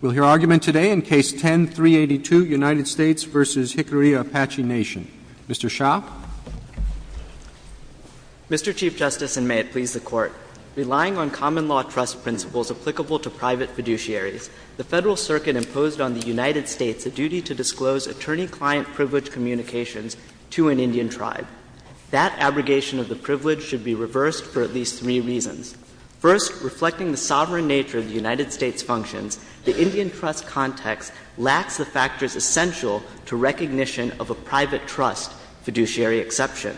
We'll hear argument today in Case No. 10-382, United States v. Jicarilla Apache Nation. Mr. Shah. Mr. Chief Justice, and may it please the Court, Relying on common law trust principles applicable to private fiduciaries, the Federal Circuit imposed on the United States a duty to disclose attorney-client privilege communications to an Indian tribe. That abrogation of the privilege should be reversed for at least three reasons. First, reflecting the sovereign nature of the United States' functions, the Indian trust context lacks the factors essential to recognition of a private trust fiduciary exception.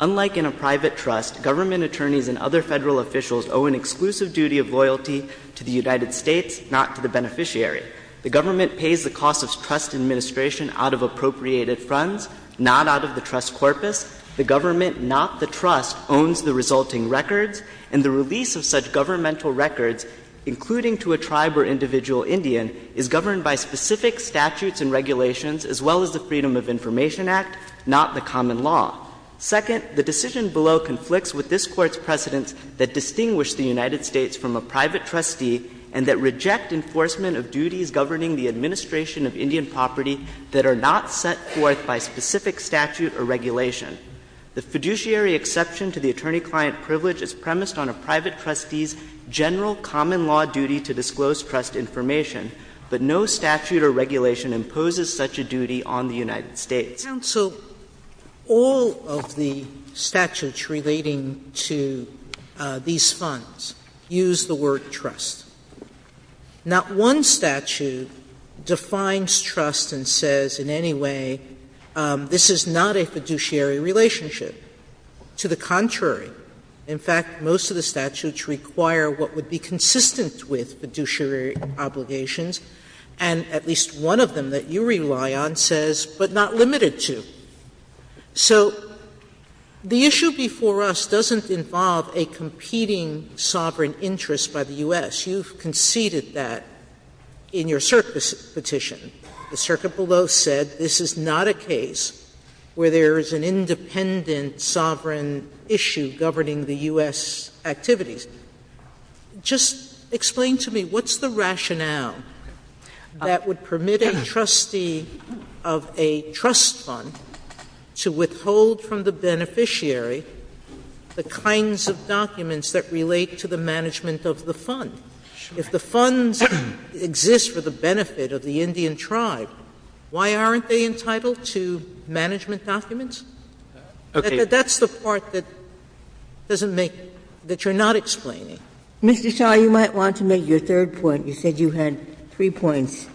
Unlike in a private trust, government attorneys and other Federal officials owe an exclusive duty of loyalty to the United States, not to the beneficiary. The government pays the cost of trust administration out of appropriated funds, not out of the trust corpus. The government, not the trust, owns the resulting records, and the release of such governmental records, including to a tribe or individual Indian, is governed by specific statutes and regulations, as well as the Freedom of Information Act, not the common law. Second, the decision below conflicts with this Court's precedents that distinguish the United States from a private trustee and that reject enforcement of duties governing the administration of Indian property that are not set forth by specific statute or regulation. The fiduciary exception to the attorney-client privilege is premised on a private trustee's general common law duty to disclose trust information, but no statute or regulation imposes such a duty on the United States. Sotomayor, all of the statutes relating to these funds use the word trust. Not one statute defines trust and says in any way this is not a fiduciary relationship. To the contrary, in fact, most of the statutes require what would be consistent with fiduciary obligations, and at least one of them that you rely on says, but not limited to. So the issue before us doesn't involve a competing sovereign interest by the U.S. You've conceded that in your cert petition. The circuit below said this is not a case where there is an independent sovereign issue governing the U.S. activities. Just explain to me what's the rationale that would permit a trustee of a trust fund to withhold from the beneficiary the kinds of documents that relate to the management of the fund? If the funds exist for the benefit of the Indian tribe, why aren't they entitled to management documents? That's the part that doesn't make the point, that you're not explaining. Mr. Shah, you might want to make your third point. You said you had three points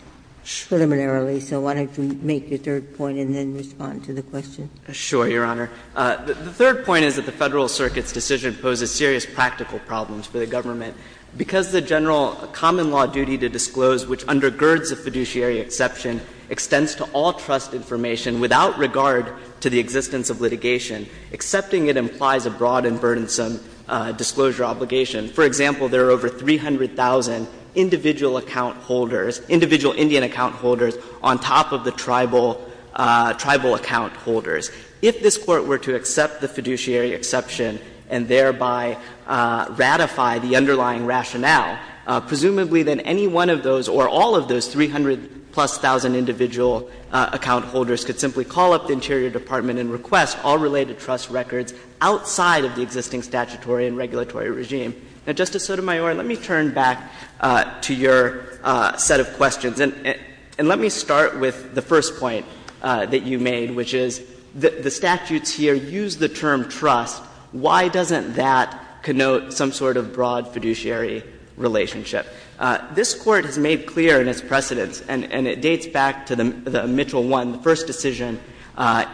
preliminarily, so why don't you make your third point and then respond to the question? Shah, Your Honor, the third point is that the Federal Circuit's decision poses serious practical problems for the government. Because the general common law duty to disclose, which undergirds a fiduciary exception, extends to all trust information without regard to the existence of litigation, accepting it implies a broad and burdensome disclosure obligation. For example, there are over 300,000 individual account holders, individual Indian account holders, on top of the tribal, tribal account holders. If this Court were to accept the fiduciary exception and thereby ratify the underlying rationale, presumably then any one of those or all of those 300-plus thousand individual account holders could simply call up the Interior Department and request all related trust records outside of the existing statutory and regulatory regime. Now, Justice Sotomayor, let me turn back to your set of questions. And let me start with the first point that you made, which is the statutes here use the term trust. Why doesn't that connote some sort of broad fiduciary relationship? This Court has made clear in its precedents, and it dates back to the Mitchell one, the first decision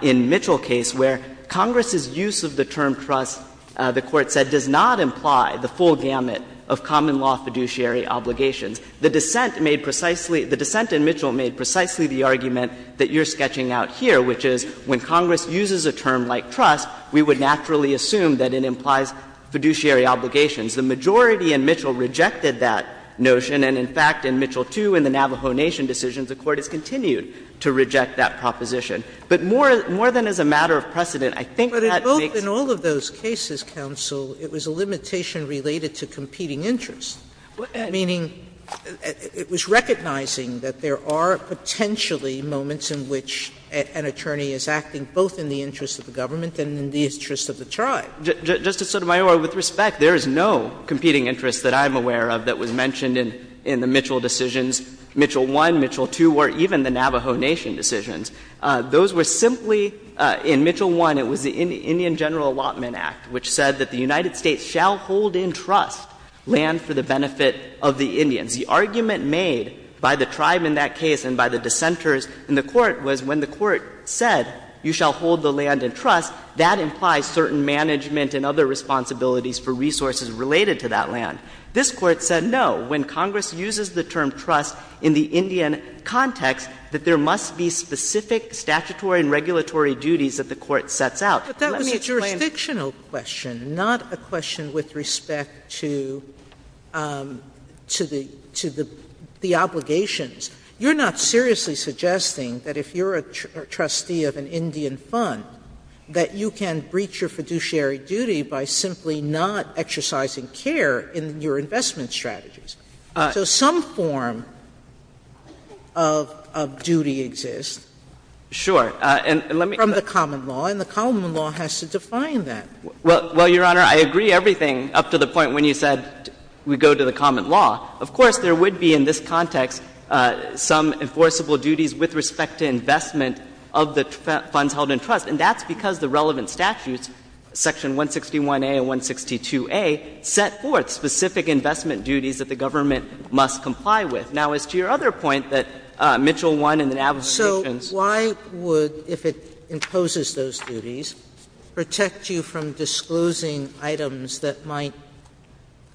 in Mitchell case, where Congress's use of the term trust, the Court said, does not imply the full gamut of common law fiduciary obligations. The dissent made precisely, the dissent in Mitchell made precisely the argument that you're sketching out here, which is when Congress uses a term like trust, we would naturally assume that it implies fiduciary obligations. The majority in Mitchell rejected that notion. And, in fact, in Mitchell two in the Navajo Nation decisions, the Court has continued to reject that proposition. But more, more than as a matter of precedent, I think that makes. Sotomayor, but in all of those cases, counsel, it was a limitation related to competing interests, meaning it was recognizing that there are potentially moments in which an attorney is acting both in the interest of the government and in the interest of the tribe. Justice Sotomayor, with respect, there is no competing interest that I'm aware of that was mentioned in the Mitchell decisions, Mitchell one, Mitchell two, or even the Navajo Nation decisions. Those were simply, in Mitchell one, it was the Indian General Allotment Act, which said that the United States shall hold in trust land for the benefit of the Indians. The argument made by the tribe in that case and by the dissenters in the Court was when the Court said you shall hold the land in trust, that implies certain management and other responsibilities for resources related to that land. This Court said, no, when Congress uses the term trust in the Indian context, that there must be specific statutory and regulatory duties that the Court sets out. Sotomayor, let me explain. Sotomayor, that was a jurisdictional question, not a question with respect to the obligations. You're not seriously suggesting that if you're a trustee of an Indian fund that you can breach your fiduciary duty by simply not exercising care in your investment strategies. So some form of duty exists from the common law, and the common law has to define that. Well, Your Honor, I agree everything up to the point when you said we go to the common law. Of course, there would be in this context some enforceable duties with respect to investment of the funds held in trust, and that's because the relevant statutes, Section 161a and 162a, set forth specific investment duties that the government must comply with. Now, as to your other point that Mitchell won in the Navis conditions. Sotomayor, so why would, if it imposes those duties, protect you from disclosing items that might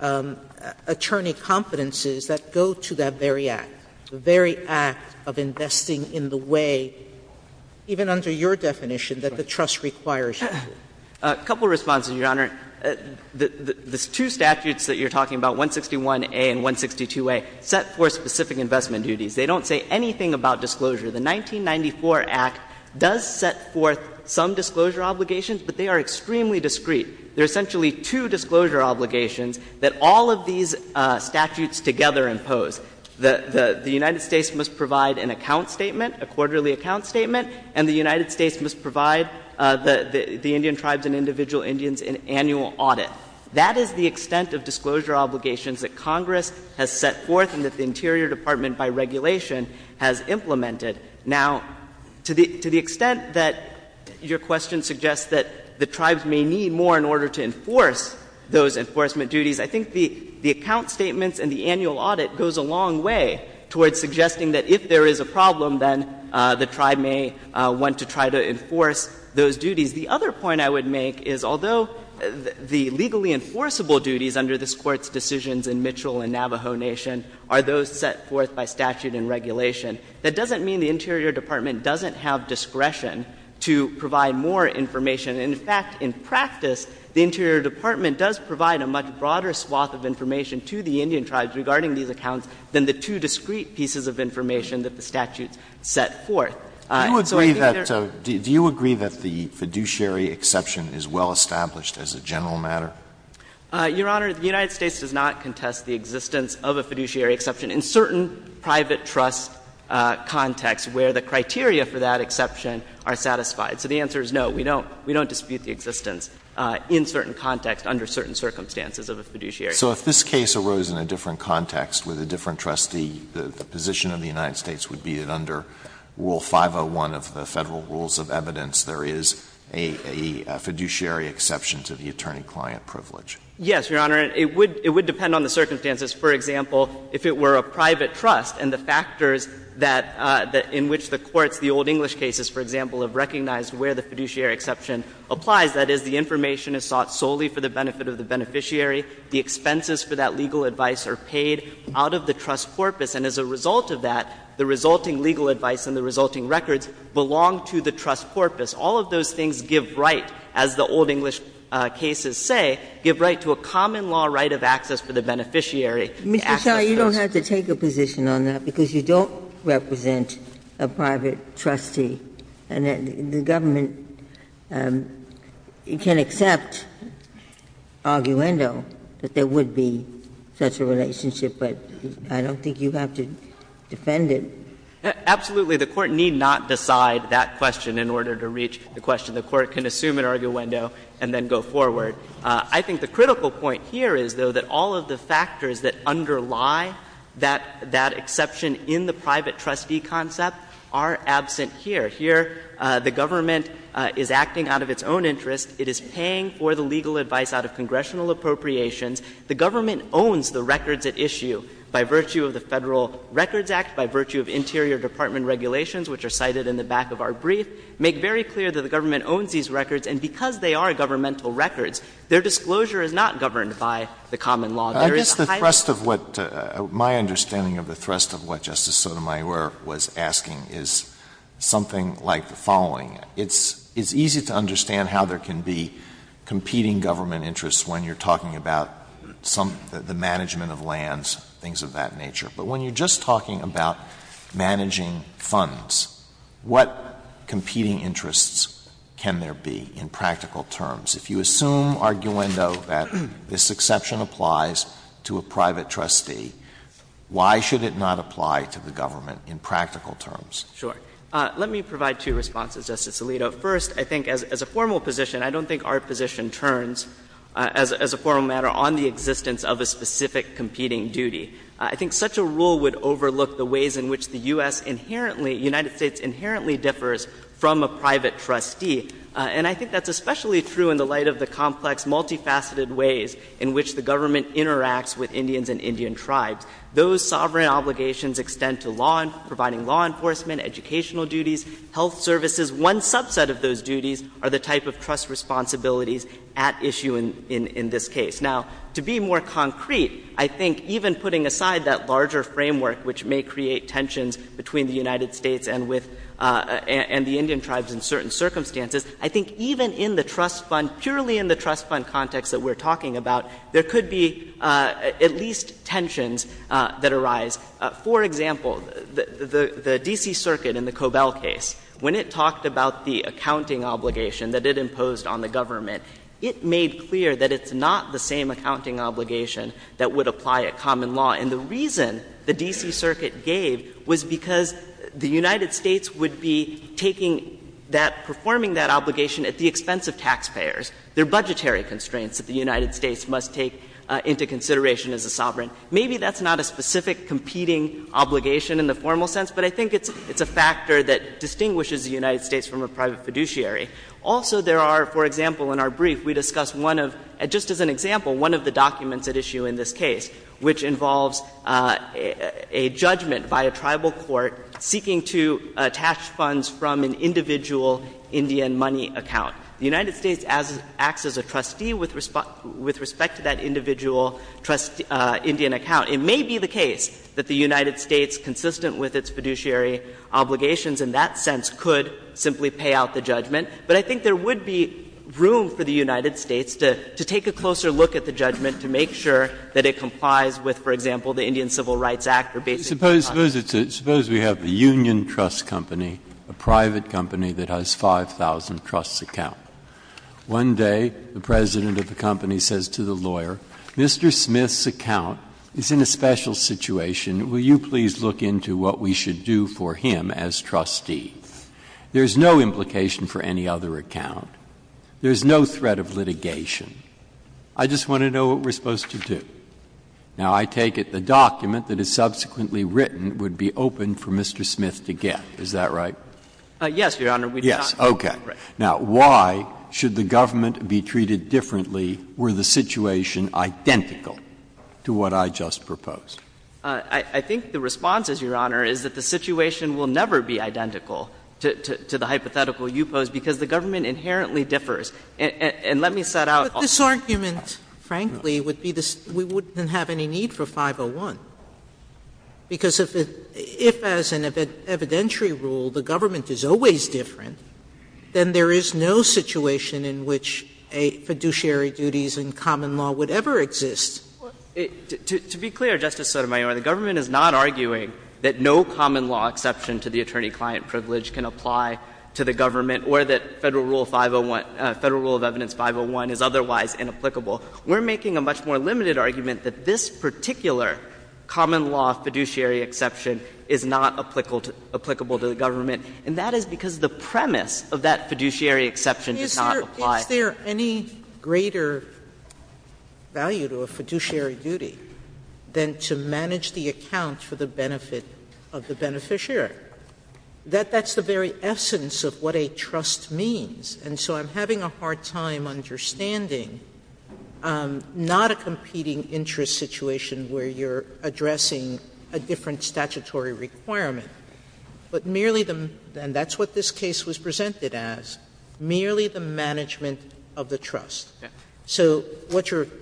attorney competencies that go to that very act, the very act of investing in the way, even under your definition, that the trust requires you to do? A couple of responses, Your Honor. The two statutes that you're talking about, 161a and 162a, set forth specific investment duties. They don't say anything about disclosure. The 1994 Act does set forth some disclosure obligations, but they are extremely discreet. There are essentially two disclosure obligations that all of these statutes together impose. The United States must provide an account statement, a quarterly account statement, and the United States must provide the Indian tribes and individual Indians an annual audit. That is the extent of disclosure obligations that Congress has set forth and that the Interior Department, by regulation, has implemented. Now, to the extent that your question suggests that the tribes may need more in order to enforce those enforcement duties, I think the account statements and the annual audit goes a long way towards suggesting that if there is a problem, then the tribe may want to try to enforce those duties. The other point I would make is, although the legally enforceable duties under this Court's decisions in Mitchell and Navajo Nation are those set forth by statute and regulation, that doesn't mean the Interior Department doesn't have discretion to provide more information. In fact, in practice, the Interior Department does provide a much broader swath of information to the Indian tribes regarding these accounts than the two discreet pieces of information that the statutes set forth. So I think there's a need to be more transparent. Alito, do you agree that the fiduciary exception is well established as a general matter? Your Honor, the United States does not contest the existence of a fiduciary exception in certain private trust contexts where the criteria for that exception are satisfied. So the answer is no, we don't dispute the existence in certain contexts under certain circumstances of a fiduciary exception. So if this case arose in a different context with a different trustee, the position of the United States would be that under Rule 501 of the Federal Rules of Evidence there is a fiduciary exception to the attorney-client privilege. Yes, Your Honor. It would depend on the circumstances. For example, if it were a private trust and the factors that the — in which the courts, the old English cases, for example, have recognized where the fiduciary exception applies, that is, the information is sought solely for the benefit of the beneficiary, the expenses for that legal advice are paid out of the trust corpus, and as a result of that, the resulting legal advice and the resulting records belong to the trust corpus. All of those things give right, as the old English cases say, give right to a common law right of access for the beneficiary to access those. Ginsburg. Ginsburg. You don't have to take a position on that, because you don't represent a private trustee, and the government can accept arguendo that there would be such a relationship, but I don't think you have to defend it. Absolutely. The Court need not decide that question in order to reach the question. The Court can assume an arguendo and then go forward. I think the critical point here is, though, that all of the factors that underlie that exception in the private trustee concept are absent here. Here, the government is acting out of its own interest. It is paying for the legal advice out of congressional appropriations. The government owns the records at issue by virtue of the Federal Records Act, by virtue of interior department regulations, which are cited in the back of our brief, make very clear that the government owns these records, and because they are governmental records, their disclosure is not governed by the common law. There is a high level of trust. I guess the thrust of what my understanding of the thrust of what Justice Sotomayor was asking is something like the following. It's easy to understand how there can be competing government interests when you're talking about some of the management of lands, things of that nature. But when you're just talking about managing funds, what competing interests can there be in practical terms? If you assume, arguendo, that this exception applies to a private trustee, why should it not apply to the government in practical terms? Sure. Let me provide two responses, Justice Alito. First, I think, as a formal position, I don't think our position turns, as a formal matter, on the existence of a specific competing duty. I think such a rule would overlook the ways in which the U.S. inherently, United States inherently differs from a private trustee. And I think that's especially true in the light of the complex, multifaceted ways in which the government interacts with Indians and Indian tribes. Those sovereign obligations extend to law, providing law enforcement, educational duties, health services. One subset of those duties are the type of trust responsibilities at issue in this case. Now, to be more concrete, I think even putting aside that larger framework which may create tensions between the United States and with the Indian tribes in certain circumstances, I think even in the trust fund, purely in the trust fund context that we're talking about, there could be at least tensions that arise. For example, the D.C. Circuit in the Cobell case, when it talked about the accounting obligation that it imposed on the government, it made clear that it's not the same accounting obligation that would apply at common law. And the reason the D.C. Circuit gave was because the United States would be taking that, performing that obligation at the expense of taxpayers. There are budgetary constraints that the United States must take into consideration as a sovereign. Maybe that's not a specific competing obligation in the formal sense, but I think it's a factor that distinguishes the United States from a private fiduciary. Also, there are, for example, in our brief, we discuss one of — just as an example, one of the documents at issue in this case, which involves a judgment by a tribal court seeking to attach funds from an individual Indian money account. The United States acts as a trustee with respect to that individual trust — Indian account. It may be the case that the United States, consistent with its fiduciary and its obligations in that sense, could simply pay out the judgment. But I think there would be room for the United States to take a closer look at the judgment to make sure that it complies with, for example, the Indian Civil Rights Act or basic— Breyer. Suppose we have the union trust company, a private company that has 5,000 trusts account. One day, the president of the company says to the lawyer, Mr. Smith's account is in a special situation. Will you please look into what we should do for him as trustee? There is no implication for any other account. There is no threat of litigation. I just want to know what we're supposed to do. Now, I take it the document that is subsequently written would be open for Mr. Smith to get. Is that right? Yes, Your Honor. We did not— Yes. Okay. Now, why should the government be treated differently were the situation identical to what I just proposed? I think the response is, Your Honor, is that the situation will never be identical to the hypothetical you posed, because the government inherently differs. And let me set out— But this argument, frankly, would be the — we wouldn't have any need for 501, because if, as an evidentiary rule, the government is always different, then there is no situation in which a fiduciary duties in common law would ever exist. To be clear, Justice Sotomayor, the government is not arguing that no common law exception to the attorney-client privilege can apply to the government or that Federal Rule 501 — Federal Rule of Evidence 501 is otherwise inapplicable. We're making a much more limited argument that this particular common law fiduciary exception is not applicable to the government, and that is because the premise of that fiduciary exception does not apply. Sotomayor, is there any greater value to a fiduciary duty than to manage the account for the benefit of the beneficiary? That's the very essence of what a trust means. And so I'm having a hard time understanding not a competing interest situation where you're addressing a different statutory requirement, but merely the — and that's what this case was presented as, merely the management of the trust. So what you're — it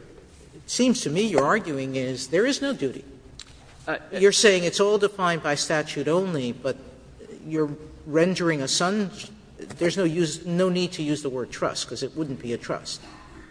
seems to me you're arguing is there is no duty. You're saying it's all defined by statute only, but you're rendering a — there's no need to use the word trust, because it wouldn't be a trust.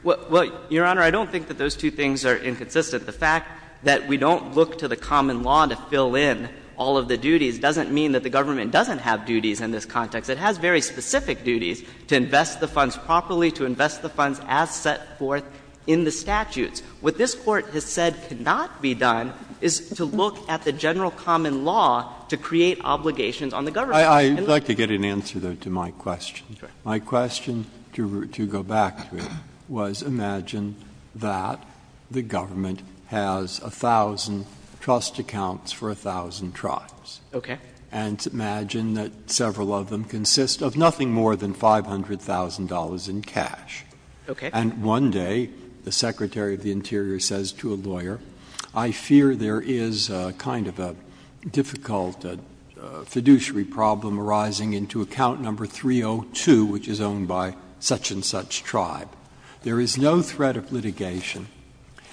Well, Your Honor, I don't think that those two things are inconsistent. The fact that we don't look to the common law to fill in all of the duties doesn't mean that the government doesn't have duties in this context. It has very specific duties to invest the funds properly, to invest the funds as set forth in the statutes. What this Court has said cannot be done is to look at the general common law to create obligations on the government. And the— Breyer, I'd like to get an answer, though, to my question. My question, to go back to it, was imagine that the government has 1,000 trust accounts for 1,000 trials. Okay. And imagine that several of them consist of nothing more than $500,000 in cash. Okay. And one day, the Secretary of the Interior says to a lawyer, I fear there is a kind of a difficult fiduciary problem arising into account number 302, which is owned by such-and-such tribe. There is no threat of litigation.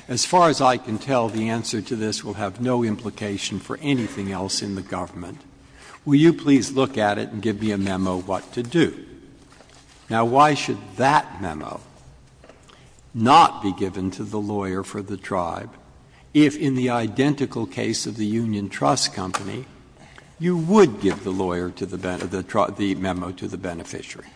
As far as I can tell, the answer to this will have no implication for anything else in the government. Will you please look at it and give me a memo what to do? Now, why should that memo not be given to the lawyer for the tribe, if in the identical case of the union trust company, you would give the lawyer to the — the memo to the beneficiary?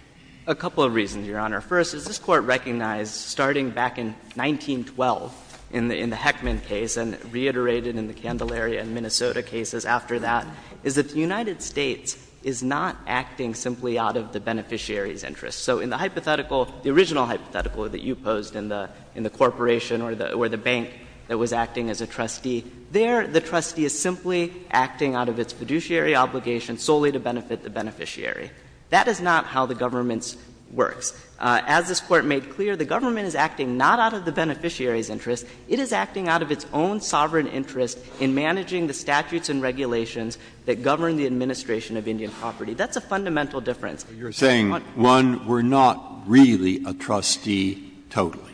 A couple of reasons, Your Honor. First, as this Court recognized starting back in 1912 in the Heckman case and reiterated in the Candelaria and Minnesota cases after that, is that the United States is not acting simply out of the beneficiary's interest. So in the hypothetical, the original hypothetical that you posed in the corporation or the bank that was acting as a trustee, there the trustee is simply acting out of its fiduciary obligation solely to benefit the beneficiary. That is not how the government works. As this Court made clear, the government is acting not out of the beneficiary's interest in managing the statutes and regulations that govern the administration of Indian property. That's a fundamental difference. Breyer. You're saying, one, we're not really a trustee totally.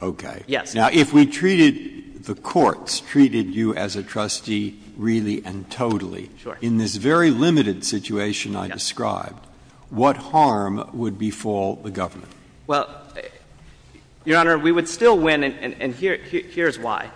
Okay. Yes. Now, if we treated — the courts treated you as a trustee really and totally. Sure. In this very limited situation I described, what harm would befall the government? Well, Your Honor, we would still win, and here's why.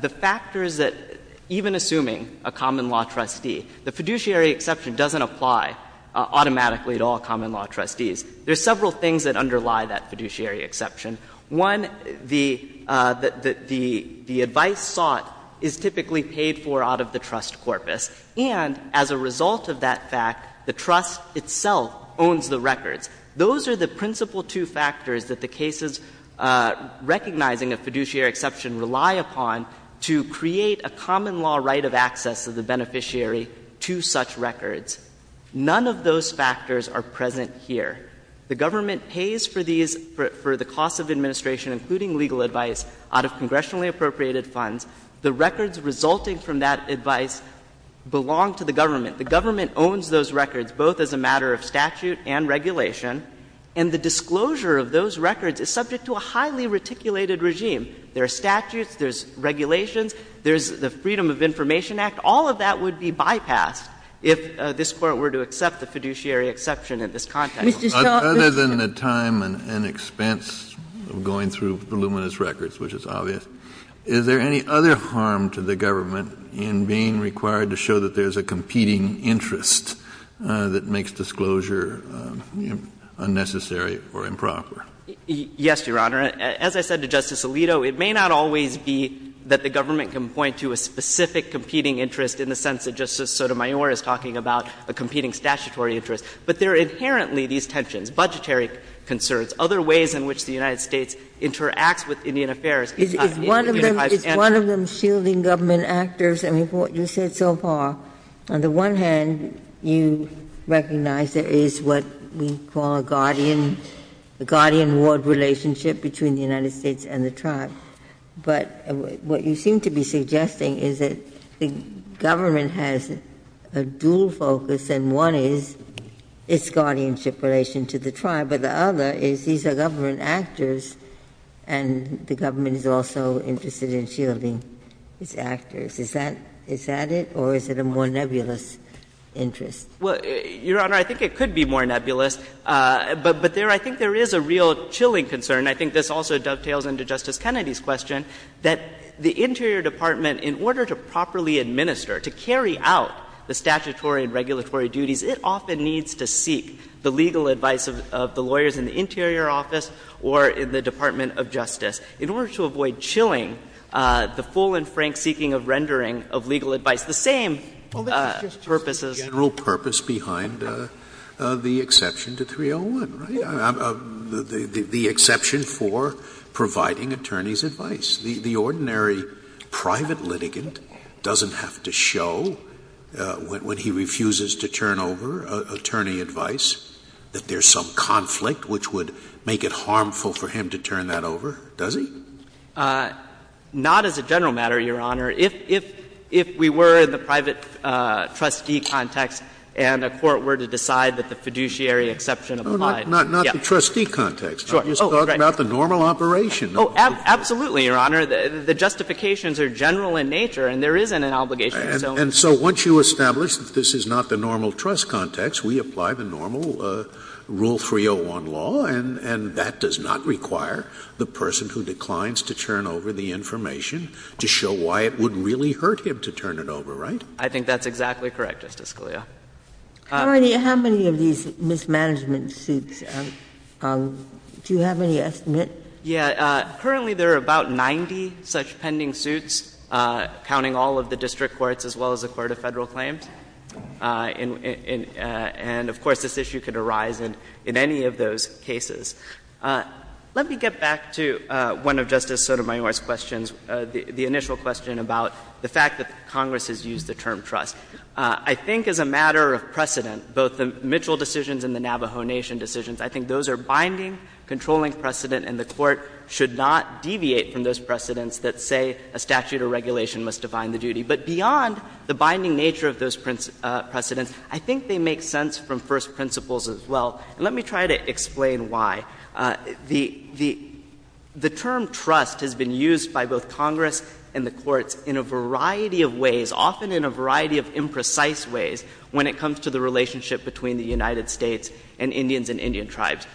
The factors that — even assuming a common law trustee, the fiduciary exception doesn't apply automatically to all common law trustees. There are several things that underlie that fiduciary exception. One, the advice sought is typically paid for out of the trust corpus, and as a result of that fact, the trust itself owns the records. Those are the principal two factors that the cases recognizing a fiduciary exception rely upon to create a common law right of access of the beneficiary to such records. None of those factors are present here. The government pays for these — for the cost of administration, including legal advice, out of congressionally appropriated funds. The records resulting from that advice belong to the government. The government owns those records, both as a matter of statute and regulation, and the disclosure of those records is subject to a highly reticulated regime. There are statutes, there's regulations, there's the Freedom of Information Act. All of that would be bypassed if this Court were to accept the fiduciary exception in this context. Other than the time and expense of going through voluminous records, which is obvious, is there any other harm to the government in being required to show that there's a competing interest that makes disclosure unnecessary or improper? Yes, Your Honor. As I said to Justice Alito, it may not always be that the government can point to a specific competing interest in the sense that Justice Sotomayor is talking about, a competing statutory interest. But there are inherently these tensions, budgetary concerns, other ways in which the United States interacts with Indian Affairs. It's one of them shielding government actors. I mean, from what you said so far, on the one hand, you recognize there is what we call a guardian ward relationship between the United States and the tribe. But what you seem to be suggesting is that the government has a dual focus, and one is its guardianship relation to the tribe, but the other is these are government actors and the government is also interested in shielding its actors. Is that it, or is it a more nebulous interest? Well, Your Honor, I think it could be more nebulous, but there I think there is a real chilling concern. I think this also dovetails into Justice Kennedy's question, that the interior department, in order to properly administer, to carry out the statutory and regulatory duties, it often needs to seek the legal advice of the lawyers in the interior office or in the Department of Justice in order to avoid chilling the full and frank seeking of rendering of legal advice, the same purposes. Scalia's general purpose behind the exception to 301, right? The exception for providing attorney's advice. The ordinary private litigant doesn't have to show, when he refuses to turn over attorney advice, that there is some conflict which would make it harmful for him to turn that over, does he? Not as a general matter, Your Honor. If we were in the private trustee context and a court were to decide that the fiduciary exception applied. Scalia, not the trustee context. I'm just talking about the normal operation. Absolutely, Your Honor. The justifications are general in nature and there isn't an obligation of its own. And so once you establish that this is not the normal trust context, we apply the normal Rule 301 law, and that does not require the person who declines to turn over the information to show why it would really hurt him to turn it over, right? I think that's exactly correct, Justice Scalia. How many of these mismanagement suits? Do you have any estimate? Yeah. Currently, there are about 90 such pending suits, counting all of the district courts as well as the court of Federal claims. And of course, this issue could arise in any of those cases. Let me get back to one of Justice Sotomayor's questions, the initial question about the fact that Congress has used the term trust. I think as a matter of precedent, both the Mitchell decisions and the Navajo Nation decisions, I think those are binding, controlling precedent, and the Court should not deviate from those precedents that say a statute or regulation must define the duty. But beyond the binding nature of those precedents, I think they make sense from first principles as well. And let me try to explain why. The term trust has been used by both Congress and the courts in a variety of ways, often in a variety of imprecise ways, when it comes to the relationship between the United States and Indians and Indian tribes.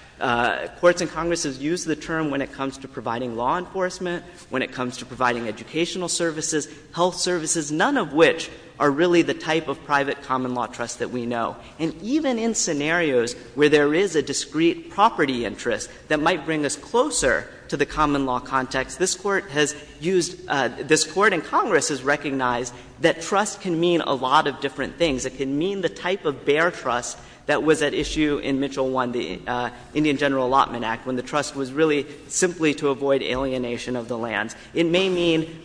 Courts and Congress has used the term when it comes to providing law enforcement, when it comes to providing educational services, health services, none of which are really the type of private common law trust that we know. And even in scenarios where there is a discrete property interest that might bring us closer to the common law context, this Court has used — this Court and Congress has recognized that trust can mean a lot of different things. It can mean the type of bare trust that was at issue in Mitchell 1, the Indian General Allotment Act, when the trust was really simply to avoid alienation of the lands. It may mean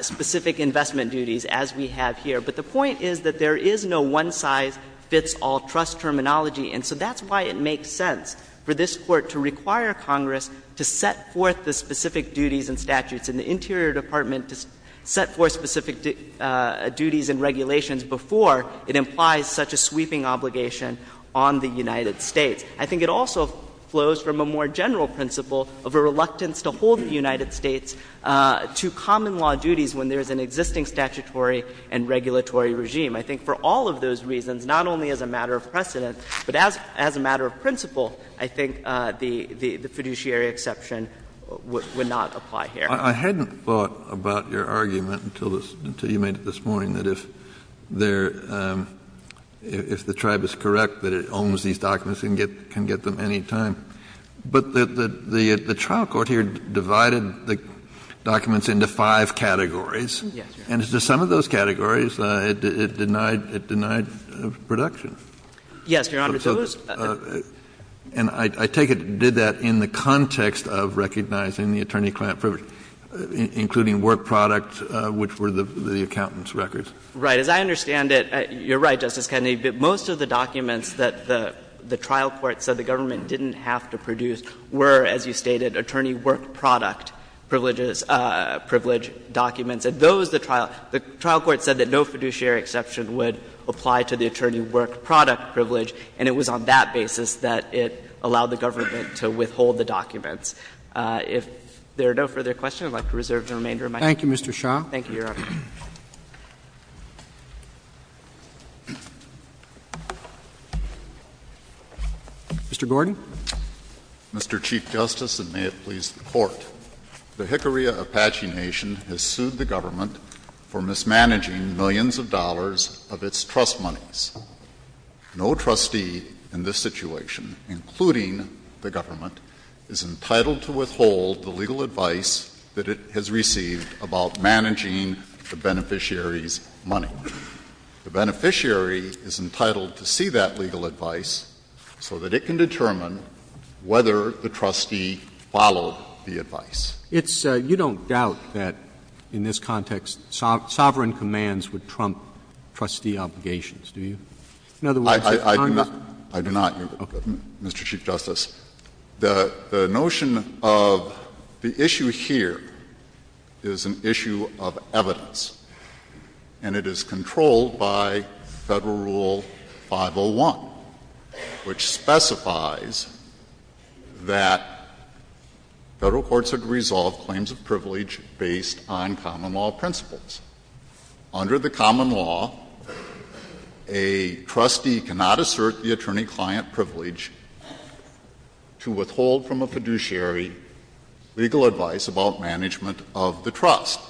specific investment duties, as we have here. But the point is that there is no one-size-fits-all trust terminology. And so that's why it makes sense for this Court to require Congress to set forth the specific duties and statutes and the Interior Department to set forth specific duties and regulations before it implies such a sweeping obligation on the United States. I think it also flows from a more general principle of a reluctance to hold the United States to common law duties when there is an existing statutory and regulatory regime. I think for all of those reasons, not only as a matter of precedent, but as a matter of principle, I think the fiduciary exception would not apply here. Kennedy, I hadn't thought about your argument until you made it this morning, that if the tribe is correct that it owns these documents, it can get them any time. But the trial court here divided the documents into five categories. And some of those categories, it denied production. Yes, Your Honor. And I take it it did that in the context of recognizing the attorney-client privilege, including work product, which were the accountant's records. Right. As I understand it, you're right, Justice Kennedy, but most of the documents that the trial court said the government didn't have to produce were, as you stated, attorney work product privileges, privilege documents. And those, the trial court said that no fiduciary exception would apply to the attorney work product privilege, and it was on that basis that it allowed the government to withhold the documents. If there are no further questions, I would like to reserve the remainder of my time. Thank you, Mr. Shah. Thank you, Your Honor. Mr. Gordon. Mr. Chief Justice, and may it please the Court. The Hickory Apache Nation has sued the government for mismanaging millions of dollars of its trust monies. No trustee in this situation, including the government, is entitled to withhold the legal advice that it has received about managing the beneficiary's money. The beneficiary is entitled to see that legal advice so that it can determine whether the trustee followed the advice. It's — you don't doubt that in this context sovereign commands would trump trustee obligations, do you? In other words, if Congress— I do not, Mr. Chief Justice. The notion of the issue here is an issue of evidence, and it is controlled by Federal Rule 501, which specifies that Federal courts have to resolve claims of privilege based on common law principles. Under the common law, a trustee cannot assert the attorney-client privilege to withhold from a fiduciary legal advice about management of the trust.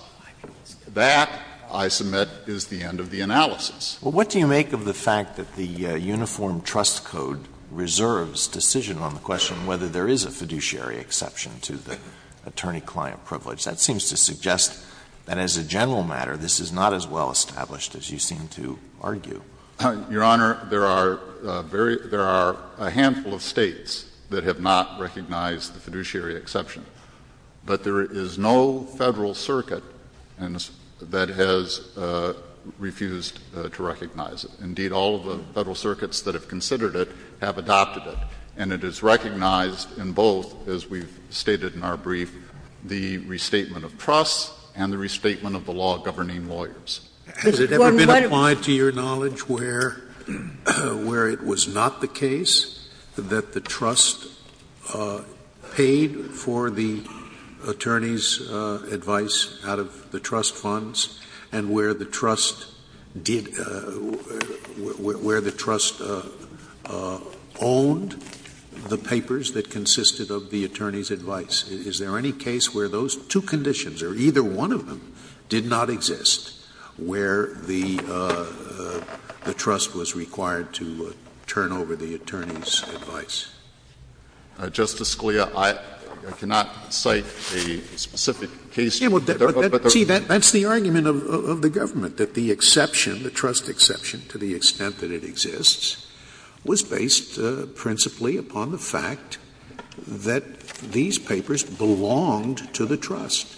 That, I submit, is the end of the analysis. Well, what do you make of the fact that the Uniform Trust Code reserves decision on the question whether there is a fiduciary exception to the attorney-client privilege? That seems to suggest that as a general matter, this is not as well established as you seem to argue. Your Honor, there are very — there are a handful of States that have not recognized the fiduciary exception. But there is no Federal circuit that has refused to recognize it. Indeed, all of the Federal circuits that have considered it have adopted it, and it is recognized in both, as we've stated in our brief, the restatement of trust and the restatement of the law governing lawyers. Has it ever been applied to your knowledge where it was not the case that the trust paid for the attorney's advice out of the trust funds and where the trust did — where the trust owned the papers that consisted of the attorney's advice? Is there any case where those two conditions, or either one of them, did not exist? Where the trust was required to turn over the attorney's advice? Justice Scalia, I cannot cite a specific case. But there are other cases. Scalia, that's the argument of the government, that the exception, the trust exception to the extent that it exists, was based principally upon the fact that these papers belonged to the trust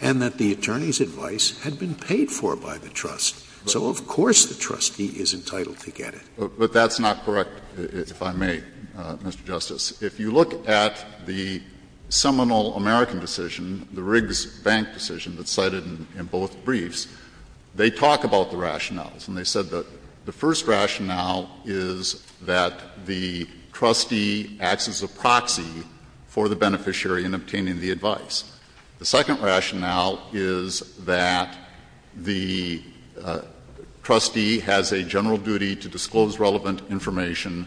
and that the attorney's advice had been paid for by the trust. So of course the trustee is entitled to get it. But that's not correct, if I may, Mr. Justice. If you look at the seminal American decision, the Riggs Bank decision that's cited in both briefs, they talk about the rationales. And they said that the first rationale is that the trustee acts as a proxy for the beneficiary in obtaining the advice. The second rationale is that the trustee has a general duty to disclose relevant information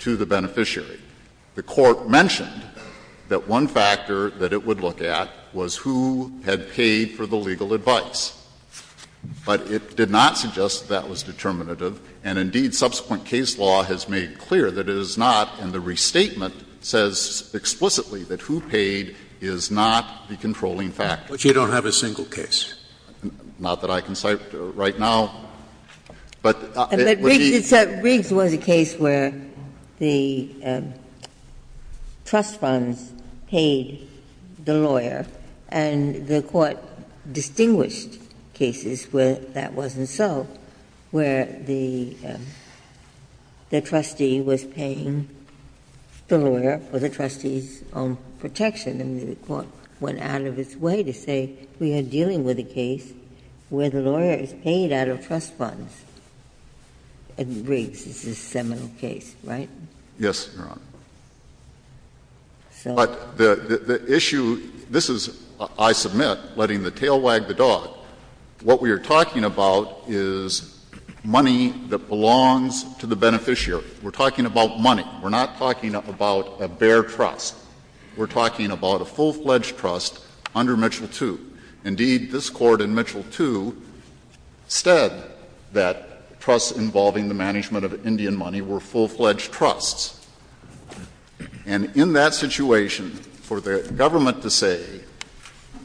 to the beneficiary. The Court mentioned that one factor that it would look at was who had paid for the legal advice. But it did not suggest that that was determinative. And indeed, subsequent case law has made clear that it is not, and the restatement says explicitly that who paid is not the controlling factor. Scalia But you don't have a single case? Pincushion Not that I can cite right now. But it would be the case where the trust funds paid the lawyer, and the Court distinguished cases where that wasn't so, where the trustee was paying the lawyer for the trustee's own protection. And the Court went out of its way to say we are dealing with a case where the lawyer is paid out of trust funds. In Riggs, this is a seminal case, right? Yes, Your Honor. But the issue, this is, I submit, letting the tail wag the dog. What we are talking about is money that belongs to the beneficiary. We are talking about money. We are not talking about a bare trust. We are talking about a full-fledged trust under Mitchell II. Indeed, this Court in Mitchell II said that trusts involving the management of Indian money were full-fledged trusts. And in that situation, for the government to say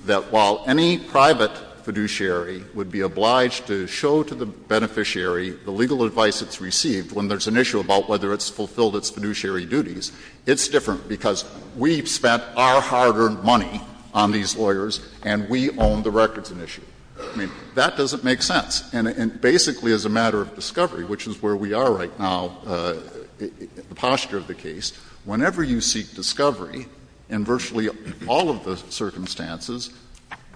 that while any private fiduciary would be obliged to show to the beneficiary the legal advice it's received when there's an issue about whether it's fulfilled its fiduciary duties, it's different, because we've spent our hard-earned money on these lawyers and we own the records in issue. I mean, that doesn't make sense. And basically, as a matter of discovery, which is where we are right now, the posture of the case, whenever you seek discovery in virtually all of the circumstances,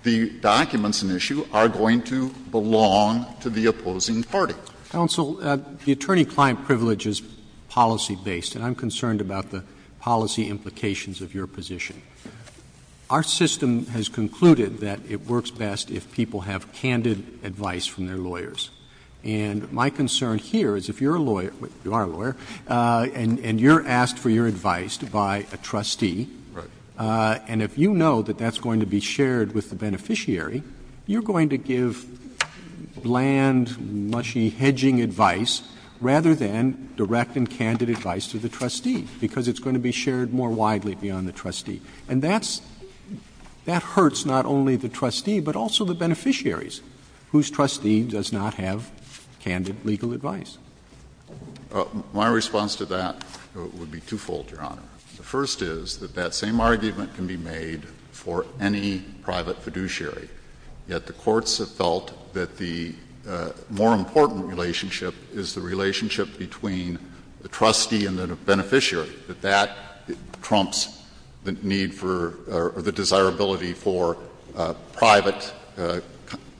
the documents in issue are going to belong to the opposing party. Counsel, the attorney-client privilege is policy-based, and I'm concerned about the policy implications of your position. Our system has concluded that it works best if people have candid advice from their lawyers. And my concern here is if you're a lawyer, you are a lawyer, and you're asked for your advice by a trustee, and if you know that that's going to be shared with the beneficiary, you're going to give bland, mushy, hedging advice rather than direct and candid advice to the trustee, because it's going to be shared more widely beyond the trustee. And that's — that hurts not only the trustee, but also the beneficiaries whose trustee does not have candid legal advice. My response to that would be twofold, Your Honor. The first is that that same argument can be made for any private fiduciary, yet the courts have felt that the more important relationship is the relationship between the trustee and the beneficiary, that that trumps the need for — or the desirability for private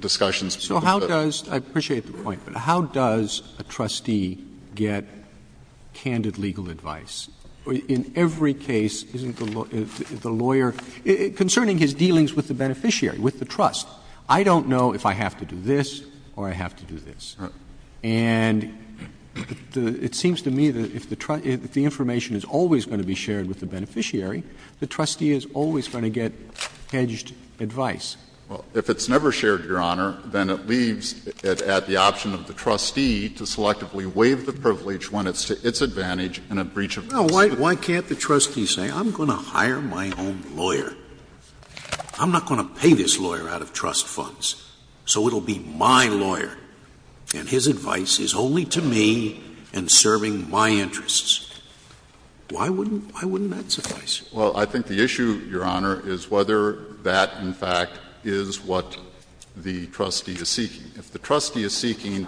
discussions. So how does — I appreciate the point, but how does a trustee get candid legal advice? In every case, isn't the lawyer — concerning his dealings with the beneficiary, with the trust, I don't know if I have to do this or I have to do this. And it seems to me that if the information is always going to be shared with the beneficiary, the trustee is always going to get hedged advice. Well, if it's never shared, Your Honor, then it leaves it at the option of the trustee to selectively waive the privilege when it's to its advantage in a breach of trust. No, why can't the trustee say, I'm going to hire my own lawyer, I'm not going to pay this lawyer out of trust funds, so it will be my lawyer, and his advice is only to me and serving my interests. Why wouldn't — why wouldn't that suffice? Well, I think the issue, Your Honor, is whether that, in fact, is what the trustee is seeking. If the trustee is seeking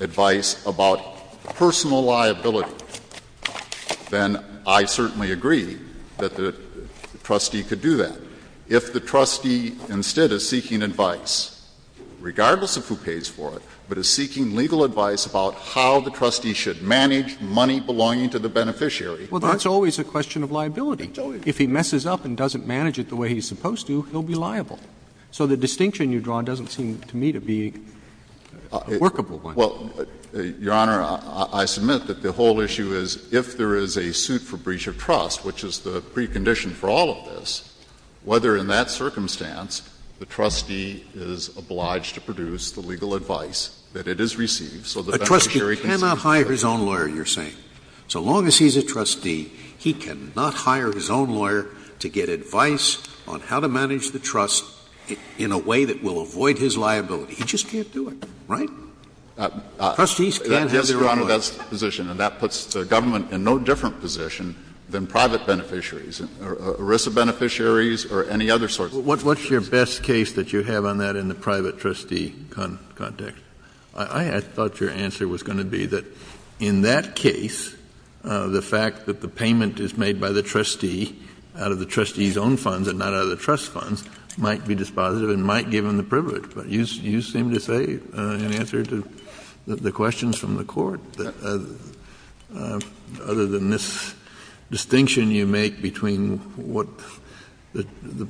advice about personal liability, then I certainly agree that the trustee could do that. If the trustee instead is seeking advice, regardless of who pays for it, but is seeking legal advice about how the trustee should manage money belonging to the beneficiary Well, that's always a question of liability. If he messes up and doesn't manage it the way he's supposed to, he'll be liable. So the distinction you've drawn doesn't seem to me to be a workable one. Well, Your Honor, I submit that the whole issue is, if there is a suit for breach of trust, which is the precondition for all of this, whether in that circumstance the trustee is obliged to produce the legal advice that it is received so the beneficiary cannot hire his own lawyer, you're saying. So long as he's a trustee, he cannot hire his own lawyer to get advice on how to manage the trust in a way that will avoid his liability. He just can't do it, right? Trustees can't have their own lawyer. Yes, Your Honor, that's the position. And that puts the government in no different position than private beneficiaries, or ERISA beneficiaries, or any other sorts of beneficiaries. What's your best case that you have on that in the private trustee context? I thought your answer was going to be that in that case, the fact that the payment is made by the trustee out of the trustee's own funds and not out of the trust funds might be dispositive and might give him the privilege. But you seem to say, in answer to the questions from the Court, that other than this distinction you make between what the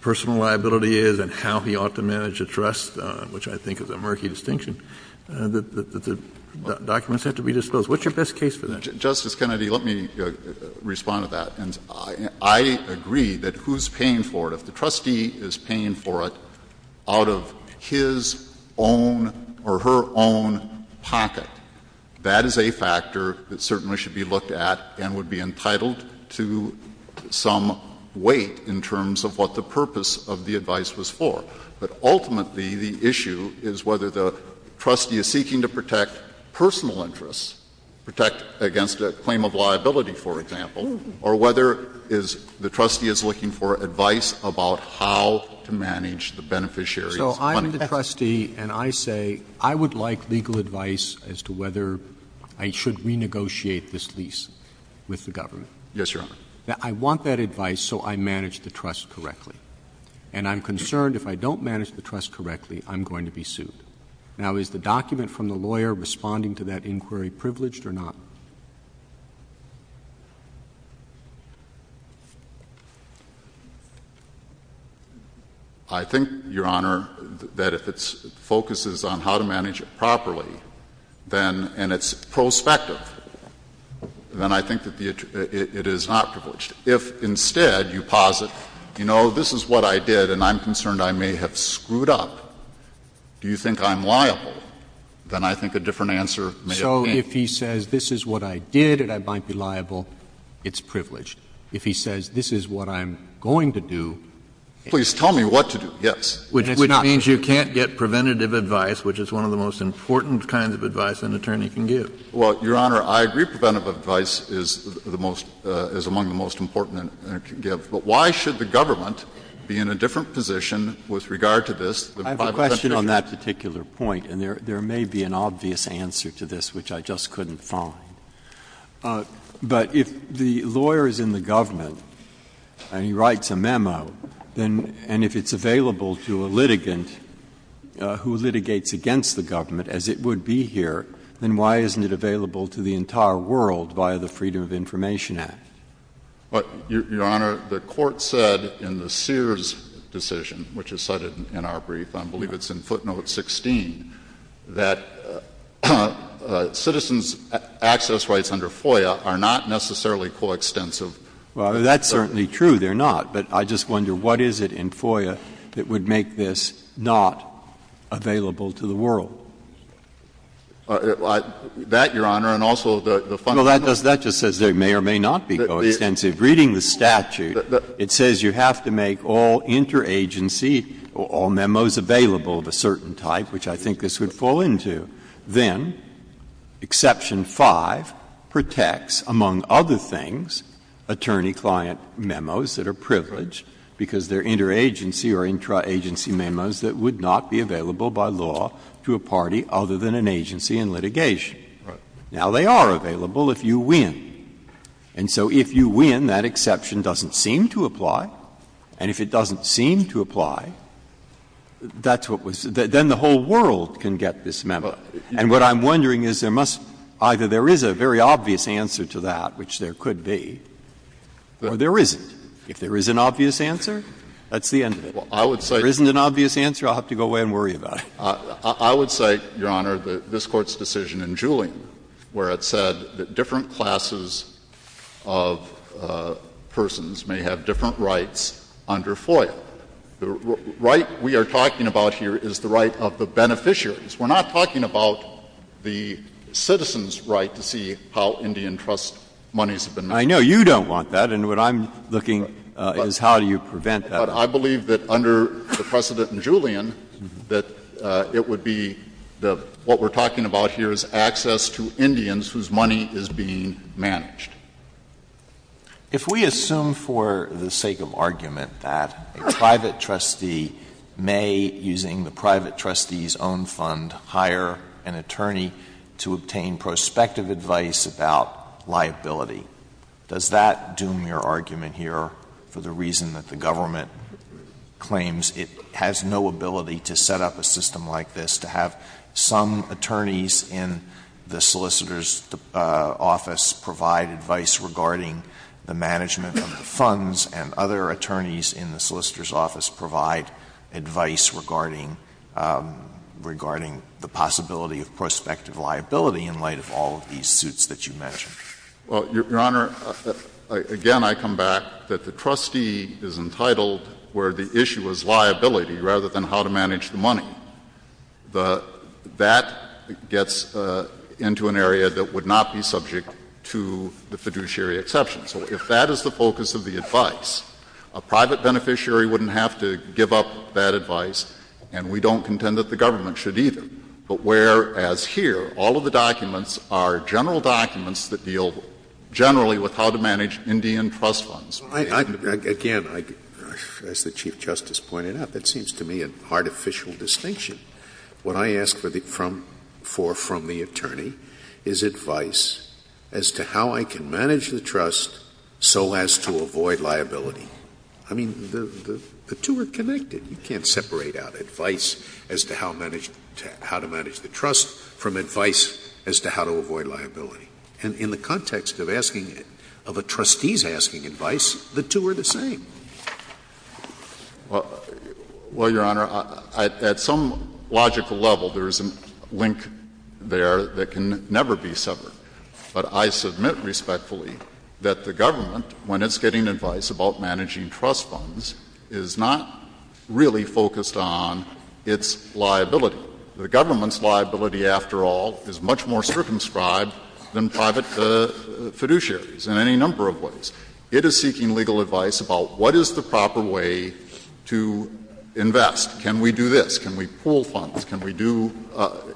personal liability is and how he ought to manage a trust, which I think is a murky distinction, that the documents have to be disposed. What's your best case for that? Justice Kennedy, let me respond to that. And I agree that who's paying for it, if the trustee is paying for it out of his own or her own pocket, that is a factor that certainly should be looked at and would be entitled to some weight in terms of what the purpose of the advice was for. But ultimately, the issue is whether the trustee is seeking to protect personal interests, protect against a claim of liability, for example, or whether the trustee is looking for advice about how to manage the beneficiaries' funds. So I'm the trustee and I say I would like legal advice as to whether I should renegotiate this lease with the government. Yes, Your Honor. I want that advice so I manage the trust correctly. And I'm concerned if I don't manage the trust correctly, I'm going to be sued. Now, is the document from the lawyer responding to that inquiry privileged or not? I think, Your Honor, that if it focuses on how to manage it properly, then, and it's prospective, then I think that it is not privileged. If instead you posit, you know, this is what I did and I'm concerned I may have screwed up, do you think I'm liable, then I think a different answer may have been. So if he says this is what I did and I might be liable, it's privileged. If he says this is what I'm going to do, it's not. Please tell me what to do, yes. Which means you can't get preventative advice, which is one of the most important kinds of advice an attorney can give. Well, Your Honor, I agree preventative advice is the most, is among the most important an attorney can give. But why should the government be in a different position with regard to this than by the presentation? I have a question on that particular point, and there may be an obvious answer to this which I just couldn't find. But if the lawyer is in the government and he writes a memo, then, and if it's available to a litigant who litigates against the government, as it would be here, then why isn't it available to the entire world via the Freedom of Information Act? Your Honor, the Court said in the Sears decision, which is cited in our brief, I believe it's in footnote 16, that citizens' access rights under FOIA are not necessarily coextensive. Well, that's certainly true, they're not. But I just wonder, what is it in FOIA that would make this not available to the world? That, Your Honor, and also the fundamental. Breyer. Well, that just says they may or may not be coextensive. Reading the statute, it says you have to make all interagency, all memos available of a certain type, which I think this would fall into. Then, exception 5 protects, among other things, attorney-client memos that are privileged, because they're interagency or intraagency memos that would not be available by law to a party other than an agency in litigation. Now, they are available if you win. And so if you win, that exception doesn't seem to apply. And if it doesn't seem to apply, that's what was the — then the whole world can get this memo. And what I'm wondering is there must — either there is a very obvious answer to that, which there could be, or there isn't. If there is an obvious answer, that's the end of it. Well, I would say — If there isn't an obvious answer, I'll have to go away and worry about it. I would say, Your Honor, that this Court's decision in Julian, where it said that different classes of persons may have different rights under FOIA, the right we are talking about here is the right of the beneficiaries. We're not talking about the citizens' right to see how Indian trust monies have been made. I know you don't want that, and what I'm looking is how do you prevent that. But I believe that under the precedent in Julian, that it would be the — what we're talking about here is access to Indians whose money is being managed. If we assume for the sake of argument that a private trustee may, using the private trustee's own fund, hire an attorney to obtain prospective advice about liability, does that doom your argument here for the reason that the government claims it has no ability to set up a system like this, to have some attorneys in the solicitor's office provide advice regarding the management of the funds, and other attorneys in the solicitor's office provide advice regarding — regarding the possibility of prospective liability in light of all of these suits that you mentioned? Well, Your Honor, again, I come back that the trustee is entitled where the issue is liability rather than how to manage the money. That gets into an area that would not be subject to the fiduciary exception. So if that is the focus of the advice, a private beneficiary wouldn't have to give up that advice, and we don't contend that the government should either. But whereas here, all of the documents are general documents that deal generally with how to manage Indian trust funds. Again, as the Chief Justice pointed out, that seems to me an artificial distinction. What I ask for from the attorney is advice as to how I can manage the trust so as to avoid liability. I mean, the two are connected. You can't separate out advice as to how to manage the trust from advice as to how to avoid liability. And in the context of asking — of a trustee's asking advice, the two are the same. Well, Your Honor, at some logical level, there is a link there that can never be severed. But I submit respectfully that the government, when it's getting advice about managing Indian trust funds, is not really focused on its liability. The government's liability, after all, is much more circumscribed than private fiduciaries in any number of ways. It is seeking legal advice about what is the proper way to invest. Can we do this? Can we pool funds? Can we do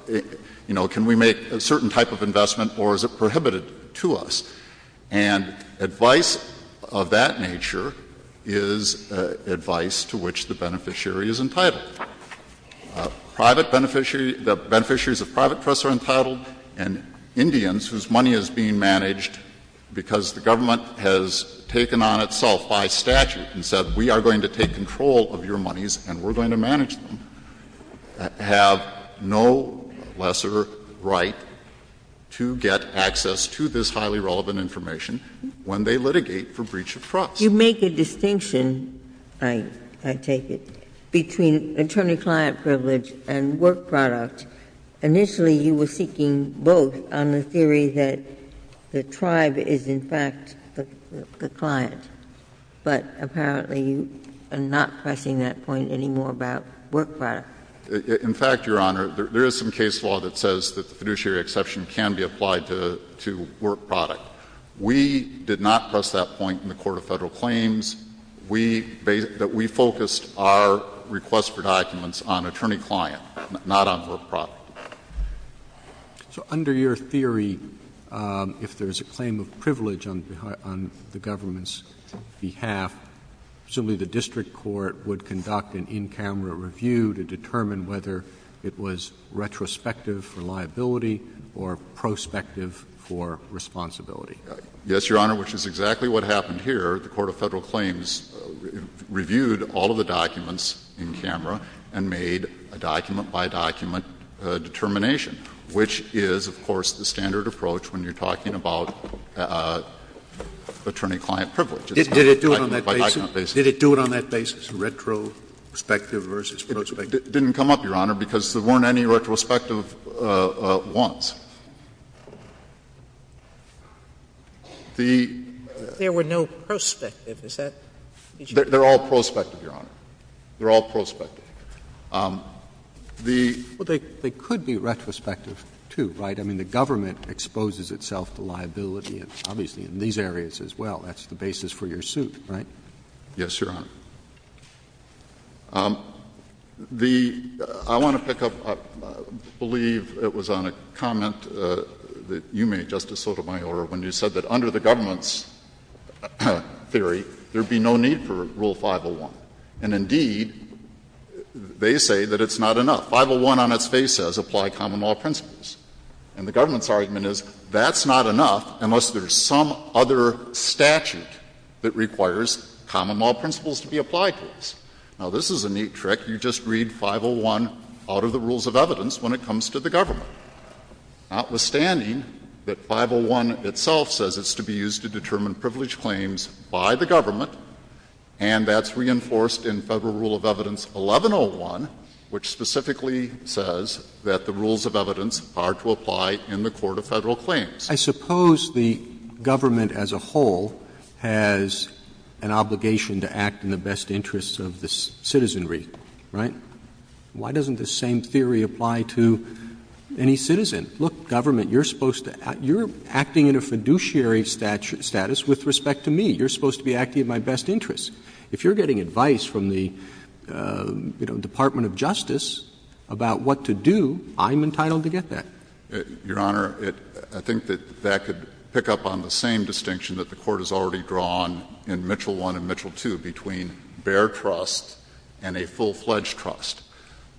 — you know, can we make a certain type of investment, or is it prohibited to us? And advice of that nature is advice to which the beneficiary is entitled. Private beneficiary — the beneficiaries of private trusts are entitled, and Indians, whose money is being managed because the government has taken on itself by statute and said, we are going to take control of your monies and we're going to manage them, have no lesser right to get access to this highly relevant information when they litigate for breach of trust. You make a distinction, I take it, between attorney-client privilege and work product. Initially, you were seeking both on the theory that the tribe is, in fact, the client. But apparently, you are not pressing that point anymore about work product. In fact, Your Honor, there is some case law that says that the fiduciary exception can be applied to work product. We did not press that point in the Court of Federal Claims. We — that we focused our request for documents on attorney-client, not on work product. So under your theory, if there is a claim of privilege on the government's behalf, presumably the district court would conduct an in-camera review to determine whether it was retrospective for liability or prospective for responsibility? Yes, Your Honor, which is exactly what happened here. The Court of Federal Claims reviewed all of the documents in camera and made a document by document determination, which is, of course, the standard approach when you are talking about attorney-client privilege. Did it do it on that basis? Did it do it on that basis, retrospective versus prospective? It didn't come up, Your Honor, because there weren't any retrospective ones. The — There were no prospective. Is that what you're saying? They are all prospective, Your Honor. They are all prospective. The — Well, they could be retrospective, too, right? I mean, the government exposes itself to liability, obviously, in these areas as well. That's the basis for your suit, right? Yes, Your Honor. The — I want to pick up, I believe it was on a comment that you made, Justice Sotomayor, when you said that under the government's theory there would be no need for Rule 501. And indeed, they say that it's not enough. 501 on its face says, apply common law principles. And the government's argument is, that's not enough unless there is some other statute that requires common law principles to be applied to us. Now, this is a neat trick. You just read 501 out of the rules of evidence when it comes to the government. Notwithstanding that 501 itself says it's to be used to determine privilege claims by the government, and that's reinforced in Federal Rule of Evidence 1101, which specifically says that the rules of evidence are to apply in the court of Federal claims. I suppose the government as a whole has an obligation to act in the best interest of the citizenry, right? Why doesn't the same theory apply to any citizen? Look, government, you're supposed to — you're acting in a fiduciary status with respect to me. You're supposed to be acting in my best interest. If you're getting advice from the, you know, Department of Justice about what to do, I'm entitled to get that. Your Honor, I think that that could pick up on the same distinction that the Court has already drawn in Mitchell I and Mitchell II between bare trust and a full-fledged trust.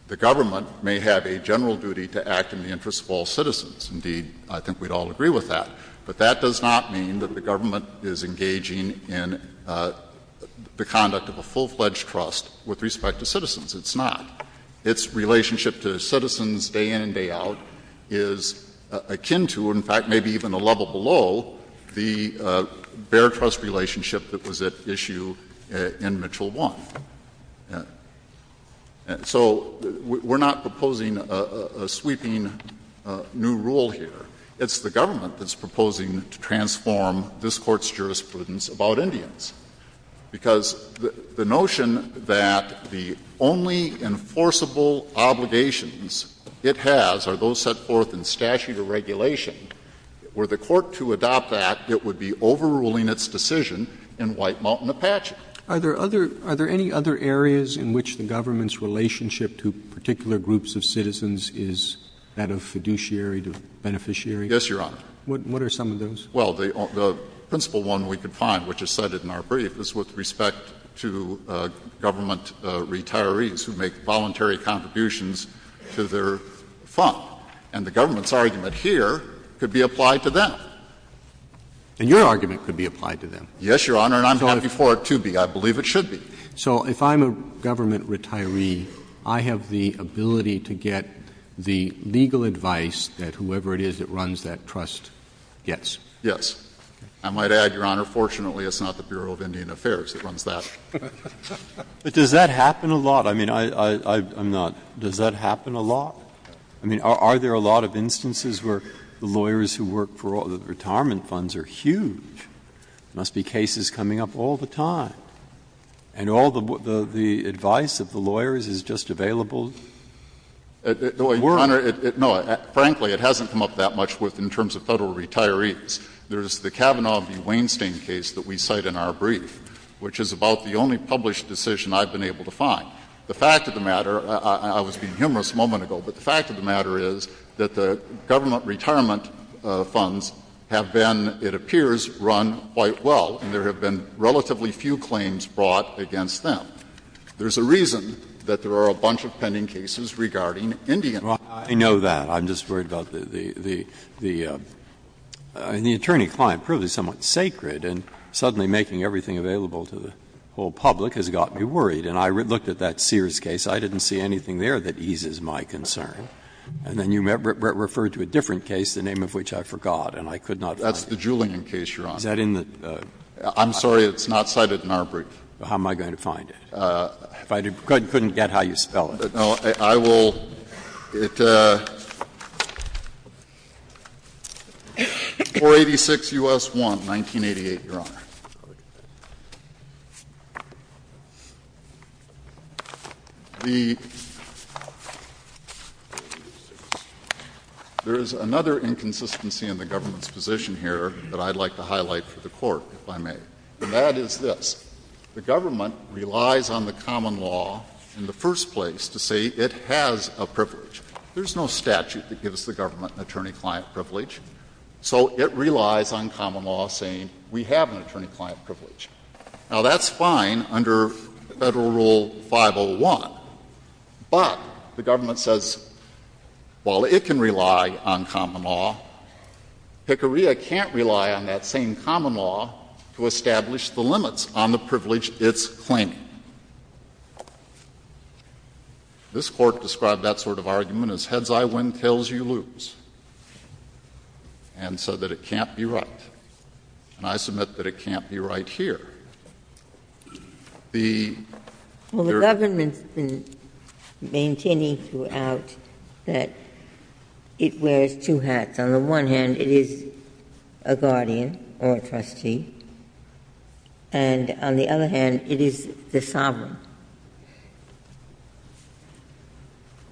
The government may have a general duty to act in the interest of all citizens. Indeed, I think we'd all agree with that. But that does not mean that the government is engaging in the conduct of a full-fledged trust with respect to citizens. It's not. Its relationship to citizens day in and day out is akin to, in fact, maybe even a level below, the bare trust relationship that was at issue in Mitchell I. So we're not proposing a sweeping new rule here. It's the government that's proposing to transform this Court's jurisprudence about Indians. Because the notion that the only enforceable obligations it has are those set forth in statute or regulation, were the Court to adopt that, it would be overruling its decision in White Mountain Apache. Are there any other areas in which the government's relationship to particular groups of citizens is that of fiduciary to beneficiary? Yes, Your Honor. What are some of those? Well, the principal one we could find, which is cited in our brief, is with respect to government retirees who make voluntary contributions to their fund. And the government's argument here could be applied to them. And your argument could be applied to them? Yes, Your Honor. And I'm happy for it to be. I believe it should be. So if I'm a government retiree, I have the ability to get the legal advice that whoever it is that runs that trust gets? Yes. I might add, Your Honor, fortunately it's not the Bureau of Indian Affairs that runs that. But does that happen a lot? I mean, I'm not — does that happen a lot? I mean, are there a lot of instances where the lawyers who work for all the retirement funds are huge? There must be cases coming up all the time. And all the advice of the lawyers is just available? No, Your Honor. No, frankly, it hasn't come up that much in terms of Federal retirees. There's the Kavanaugh v. Weinstein case that we cite in our brief, which is about the only published decision I've been able to find. The fact of the matter — I was being humorous a moment ago, but the fact of the matter is that the government retirement funds have been, it appears, run quite well. And there have been relatively few claims brought against them. There's a reason that there are a bunch of pending cases regarding Indian. Well, I know that. I'm just worried about the — the attorney-client privilege is somewhat sacred, and suddenly making everything available to the whole public has got me worried. And I looked at that Sears case. I didn't see anything there that eases my concern. And then you referred to a different case, the name of which I forgot, and I could not find it. That's the Julian case, Your Honor. Is that in the — I'm sorry, it's not cited in our brief. How am I going to find it? If I couldn't get how you spell it? No, I will. It's 486 U.S. 1, 1988, Your Honor. The — there is another inconsistency in the government's position here that I'd like to highlight for the Court, if I may. And that is this. The government relies on the common law in the first place to say it has a privilege. There's no statute that gives the government an attorney-client privilege. So it relies on common law saying we have an attorney-client privilege. Now, that's fine under Federal Rule 501, but the government says, well, it can rely on common law. PCORIA can't rely on that same common law to establish the limits on the privilege it's claiming. This Court described that sort of argument as heads I win, tails you lose. And so that it can't be right. And I submit that it can't be right here. The — Well, the government's been maintaining throughout that it wears two hats. On the one hand, it is a guardian or a trustee. And on the other hand, it is the sovereign.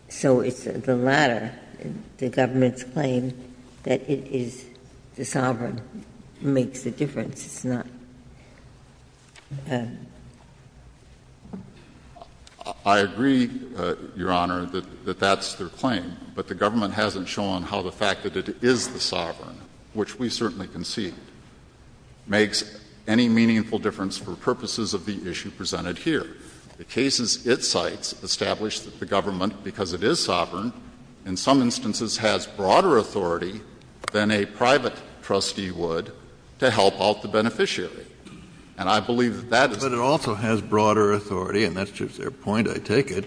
So it's the latter. The government's claim that it is the sovereign makes a difference. It's not a — I agree, Your Honor, that that's their claim. But the government hasn't shown how the fact that it is the sovereign, which we certainly concede, makes any meaningful difference for purposes of the issue presented here. The cases it cites establish that the government, because it is sovereign, in some instances has broader authority than a private trustee would to help out the beneficiary. And I believe that that is the case. But it also has broader authority, and that's just their point, I take it,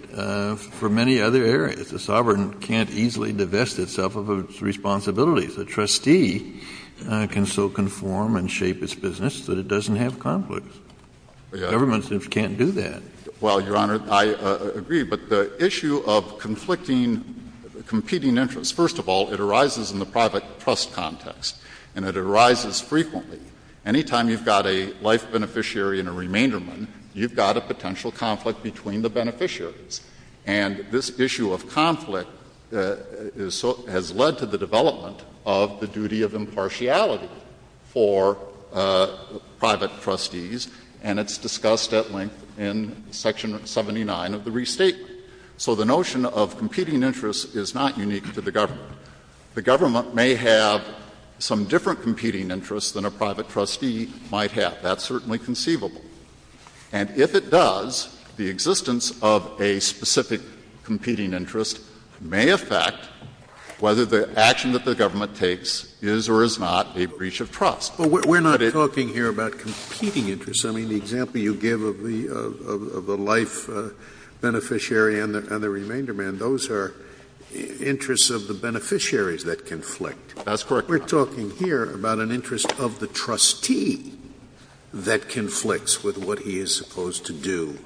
for many other areas. The sovereign can't easily divest itself of its responsibilities. A trustee can so conform and shape its business that it doesn't have conflicts. The government simply can't do that. Well, Your Honor, I agree. But the issue of conflicting, competing interests, first of all, it arises in the private trust context, and it arises frequently. Any time you've got a life beneficiary and a remainderman, you've got a potential conflict between the beneficiaries. And this issue of conflict has led to the development of the duty of impartiality for private trustees, and it's discussed at length in Section 79 of the Restatement. So the notion of competing interests is not unique to the government. The government may have some different competing interests than a private trustee might have. That's certainly conceivable. And if it does, the existence of a specific competing interest may affect whether the action that the government takes is or is not a breach of trust. But we're not talking here about competing interests. I mean, the example you give of the life beneficiary and the remainderman, those are interests of the beneficiaries that conflict. That's correct. We're talking here about an interest of the trustee that conflicts with what he is supposed to do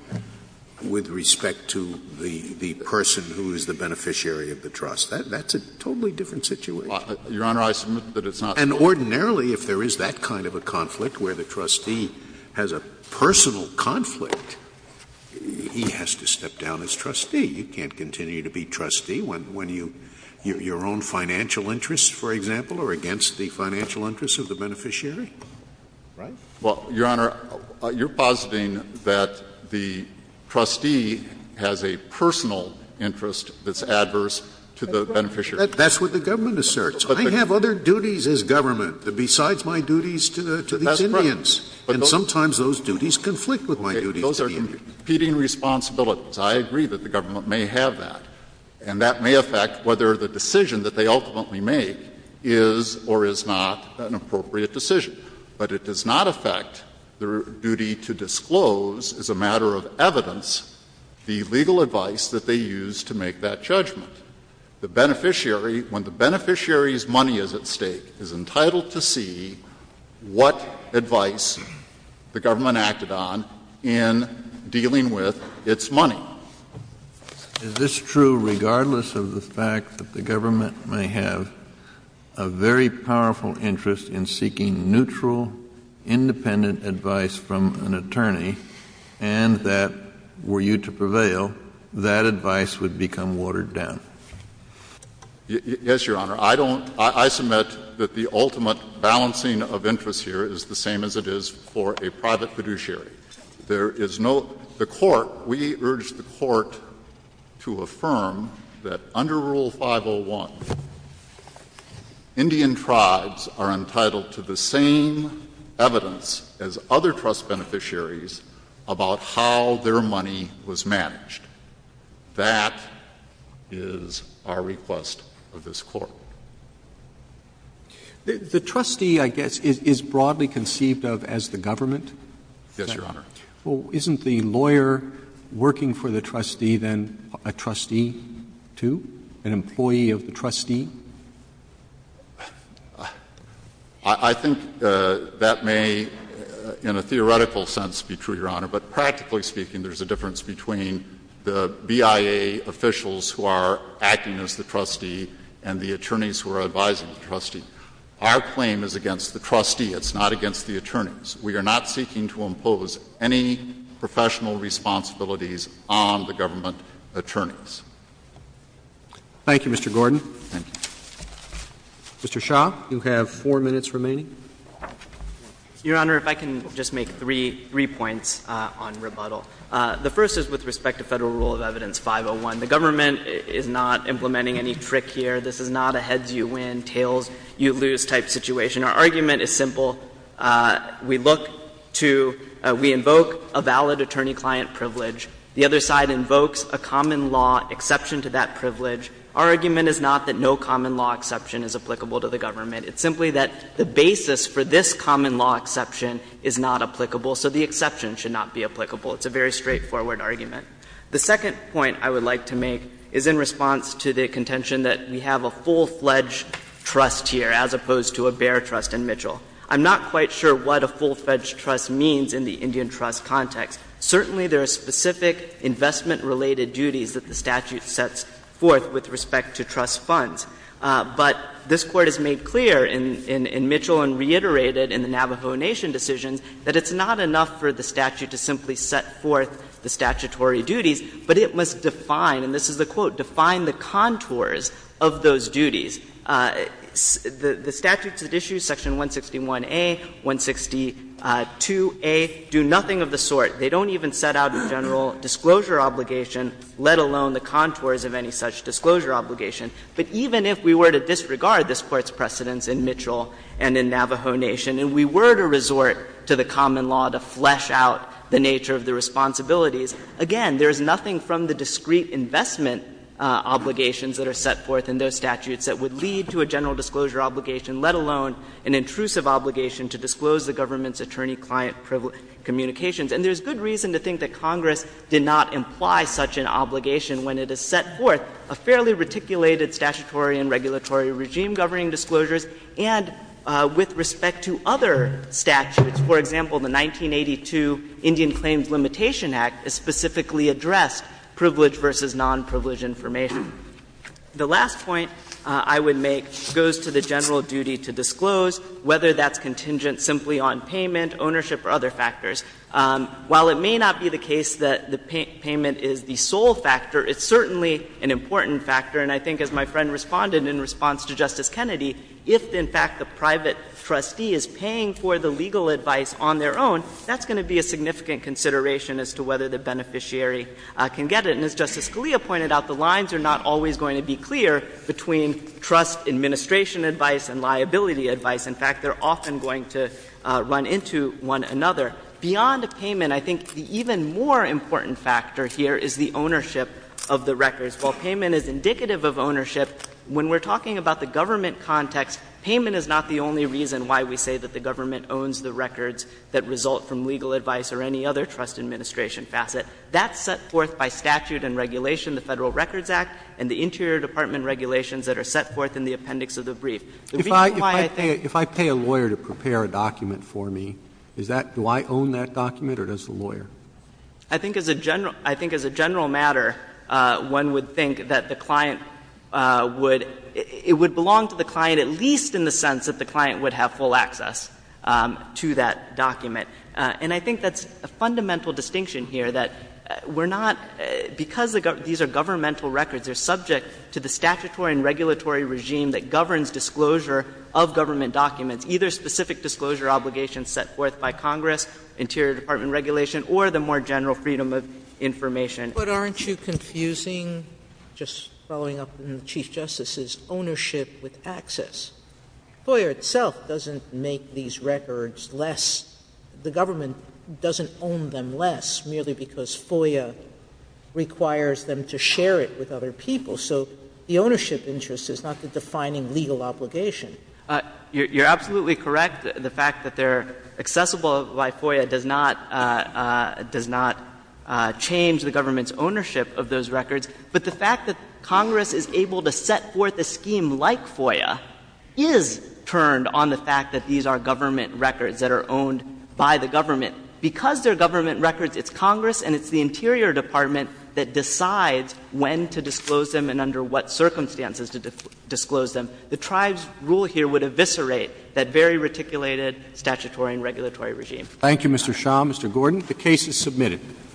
with respect to the person who is the beneficiary of the trust. That's a totally different situation. Your Honor, I submit that it's not true. And ordinarily, if there is that kind of a conflict where the trustee has a personal conflict, he has to step down as trustee. You can't continue to be trustee when you — your own financial interests, for example, are against the financial interests of the beneficiary. Right? Well, Your Honor, you're positing that the trustee has a personal interest that's That's what the government asserts. I have other duties as government besides my duties to these Indians. And sometimes those duties conflict with my duties to the Indians. Those are competing responsibilities. I agree that the government may have that. And that may affect whether the decision that they ultimately make is or is not an appropriate decision. But it does not affect their duty to disclose, as a matter of evidence, the legal advice that they use to make that judgment. The beneficiary, when the beneficiary's money is at stake, is entitled to see what advice the government acted on in dealing with its money. Is this true regardless of the fact that the government may have a very powerful interest in seeking neutral, independent advice from an attorney, and that were you to prevail, that advice would become watered down? Yes, Your Honor. I don't, I submit that the ultimate balancing of interests here is the same as it is for a private fiduciary. There is no, the court, we urge the court to affirm that under Rule 501, Indian tribes are entitled to the same evidence as other trust beneficiaries about how their money was managed. That is our request of this Court. The trustee, I guess, is broadly conceived of as the government? Yes, Your Honor. Well, isn't the lawyer working for the trustee then a trustee, too, an employee of the trustee? I think that may, in a theoretical sense, be true, Your Honor. But practically speaking, there's a difference between the BIA officials who are acting as the trustee and the attorneys who are advising the trustee. Our claim is against the trustee. It's not against the attorneys. We are not seeking to impose any professional responsibilities on the government attorneys. Thank you, Mr. Gordon. Thank you. Mr. Shah, you have four minutes remaining. Your Honor, if I can just make three points on rebuttal. The first is with respect to Federal Rule of Evidence 501. The government is not implementing any trick here. This is not a heads-you-win, tails-you-lose type situation. Our argument is simple. We look to, we invoke a valid attorney-client privilege. The other side invokes a common law exception to that privilege. Our argument is not that no common law exception is applicable to the government. It's simply that the basis for this common law exception is not applicable. So the exception should not be applicable. It's a very straightforward argument. The second point I would like to make is in response to the contention that we have a full-fledged trust here as opposed to a bare trust in Mitchell. I'm not quite sure what a full-fledged trust means in the Indian trust context. Certainly, there are specific investment-related duties that the statute sets forth with respect to trust funds. But this Court has made clear in Mitchell and reiterated in the Navajo Nation decisions that it's not enough for the statute to simply set forth the statutory duties, but it must define, and this is the quote, define the contours of those duties. The statutes that issue section 161A, 162A do nothing of the sort. They don't even set out a general disclosure obligation, let alone the contours of any such disclosure obligation. But even if we were to disregard this Court's precedents in Mitchell and in Navajo Nation, and we were to resort to the common law to flesh out the nature of the responsibilities, again, there is nothing from the discrete investment obligations that are set forth in those statutes that would lead to a general disclosure obligation, let alone an intrusive obligation to disclose the government's attorney-client communications. And there's good reason to think that Congress did not imply such an obligation when it has set forth a fairly reticulated statutory and regulatory regime governing disclosures, and with respect to other statutes. For example, the 1982 Indian Claims Limitation Act specifically addressed privileged versus nonprivileged information. The last point I would make goes to the general duty to disclose whether that's contingent simply on payment, ownership, or other factors. While it may not be the case that the payment is the sole factor, it's certainly an important factor. And I think, as my friend responded in response to Justice Kennedy, if, in fact, the private trustee is paying for the legal advice on their own, that's going to be a significant consideration as to whether the beneficiary can get it. And as Justice Scalia pointed out, the lines are not always going to be clear between trust administration advice and liability advice. In fact, they're often going to run into one another. Beyond the payment, I think the even more important factor here is the ownership of the records. While payment is indicative of ownership, when we're talking about the government context, payment is not the only reason why we say that the government owns the records that result from legal advice or any other trust administration facet. That's set forth by statute and regulation, the Federal Records Act, and the Interior Department regulations that are set forth in the appendix of the brief. If I pay a lawyer to prepare a document for me, is that do I own that document or does the lawyer? I think as a general matter, one would think that the client would — it would belong to the client at least in the sense that the client would have full access to that document. And I think that's a fundamental distinction here, that we're not — because disclosure of government documents, either specific disclosure obligations set forth by Congress, Interior Department regulation, or the more general freedom of information. But aren't you confusing, just following up on the Chief Justice's, ownership with access? FOIA itself doesn't make these records less — the government doesn't own them less merely because FOIA requires them to share it with other people. So the ownership interest is not the defining legal obligation. You're absolutely correct. The fact that they're accessible by FOIA does not — does not change the government's ownership of those records. But the fact that Congress is able to set forth a scheme like FOIA is turned on the fact that these are government records that are owned by the government. Because they're government records, it's Congress and it's the Interior Department that decides when to disclose them and under what circumstances to disclose them. The Tribes' rule here would eviscerate that very reticulated statutory and regulatory regime. Thank you, Mr. Shah. Mr. Gordon, the case is submitted.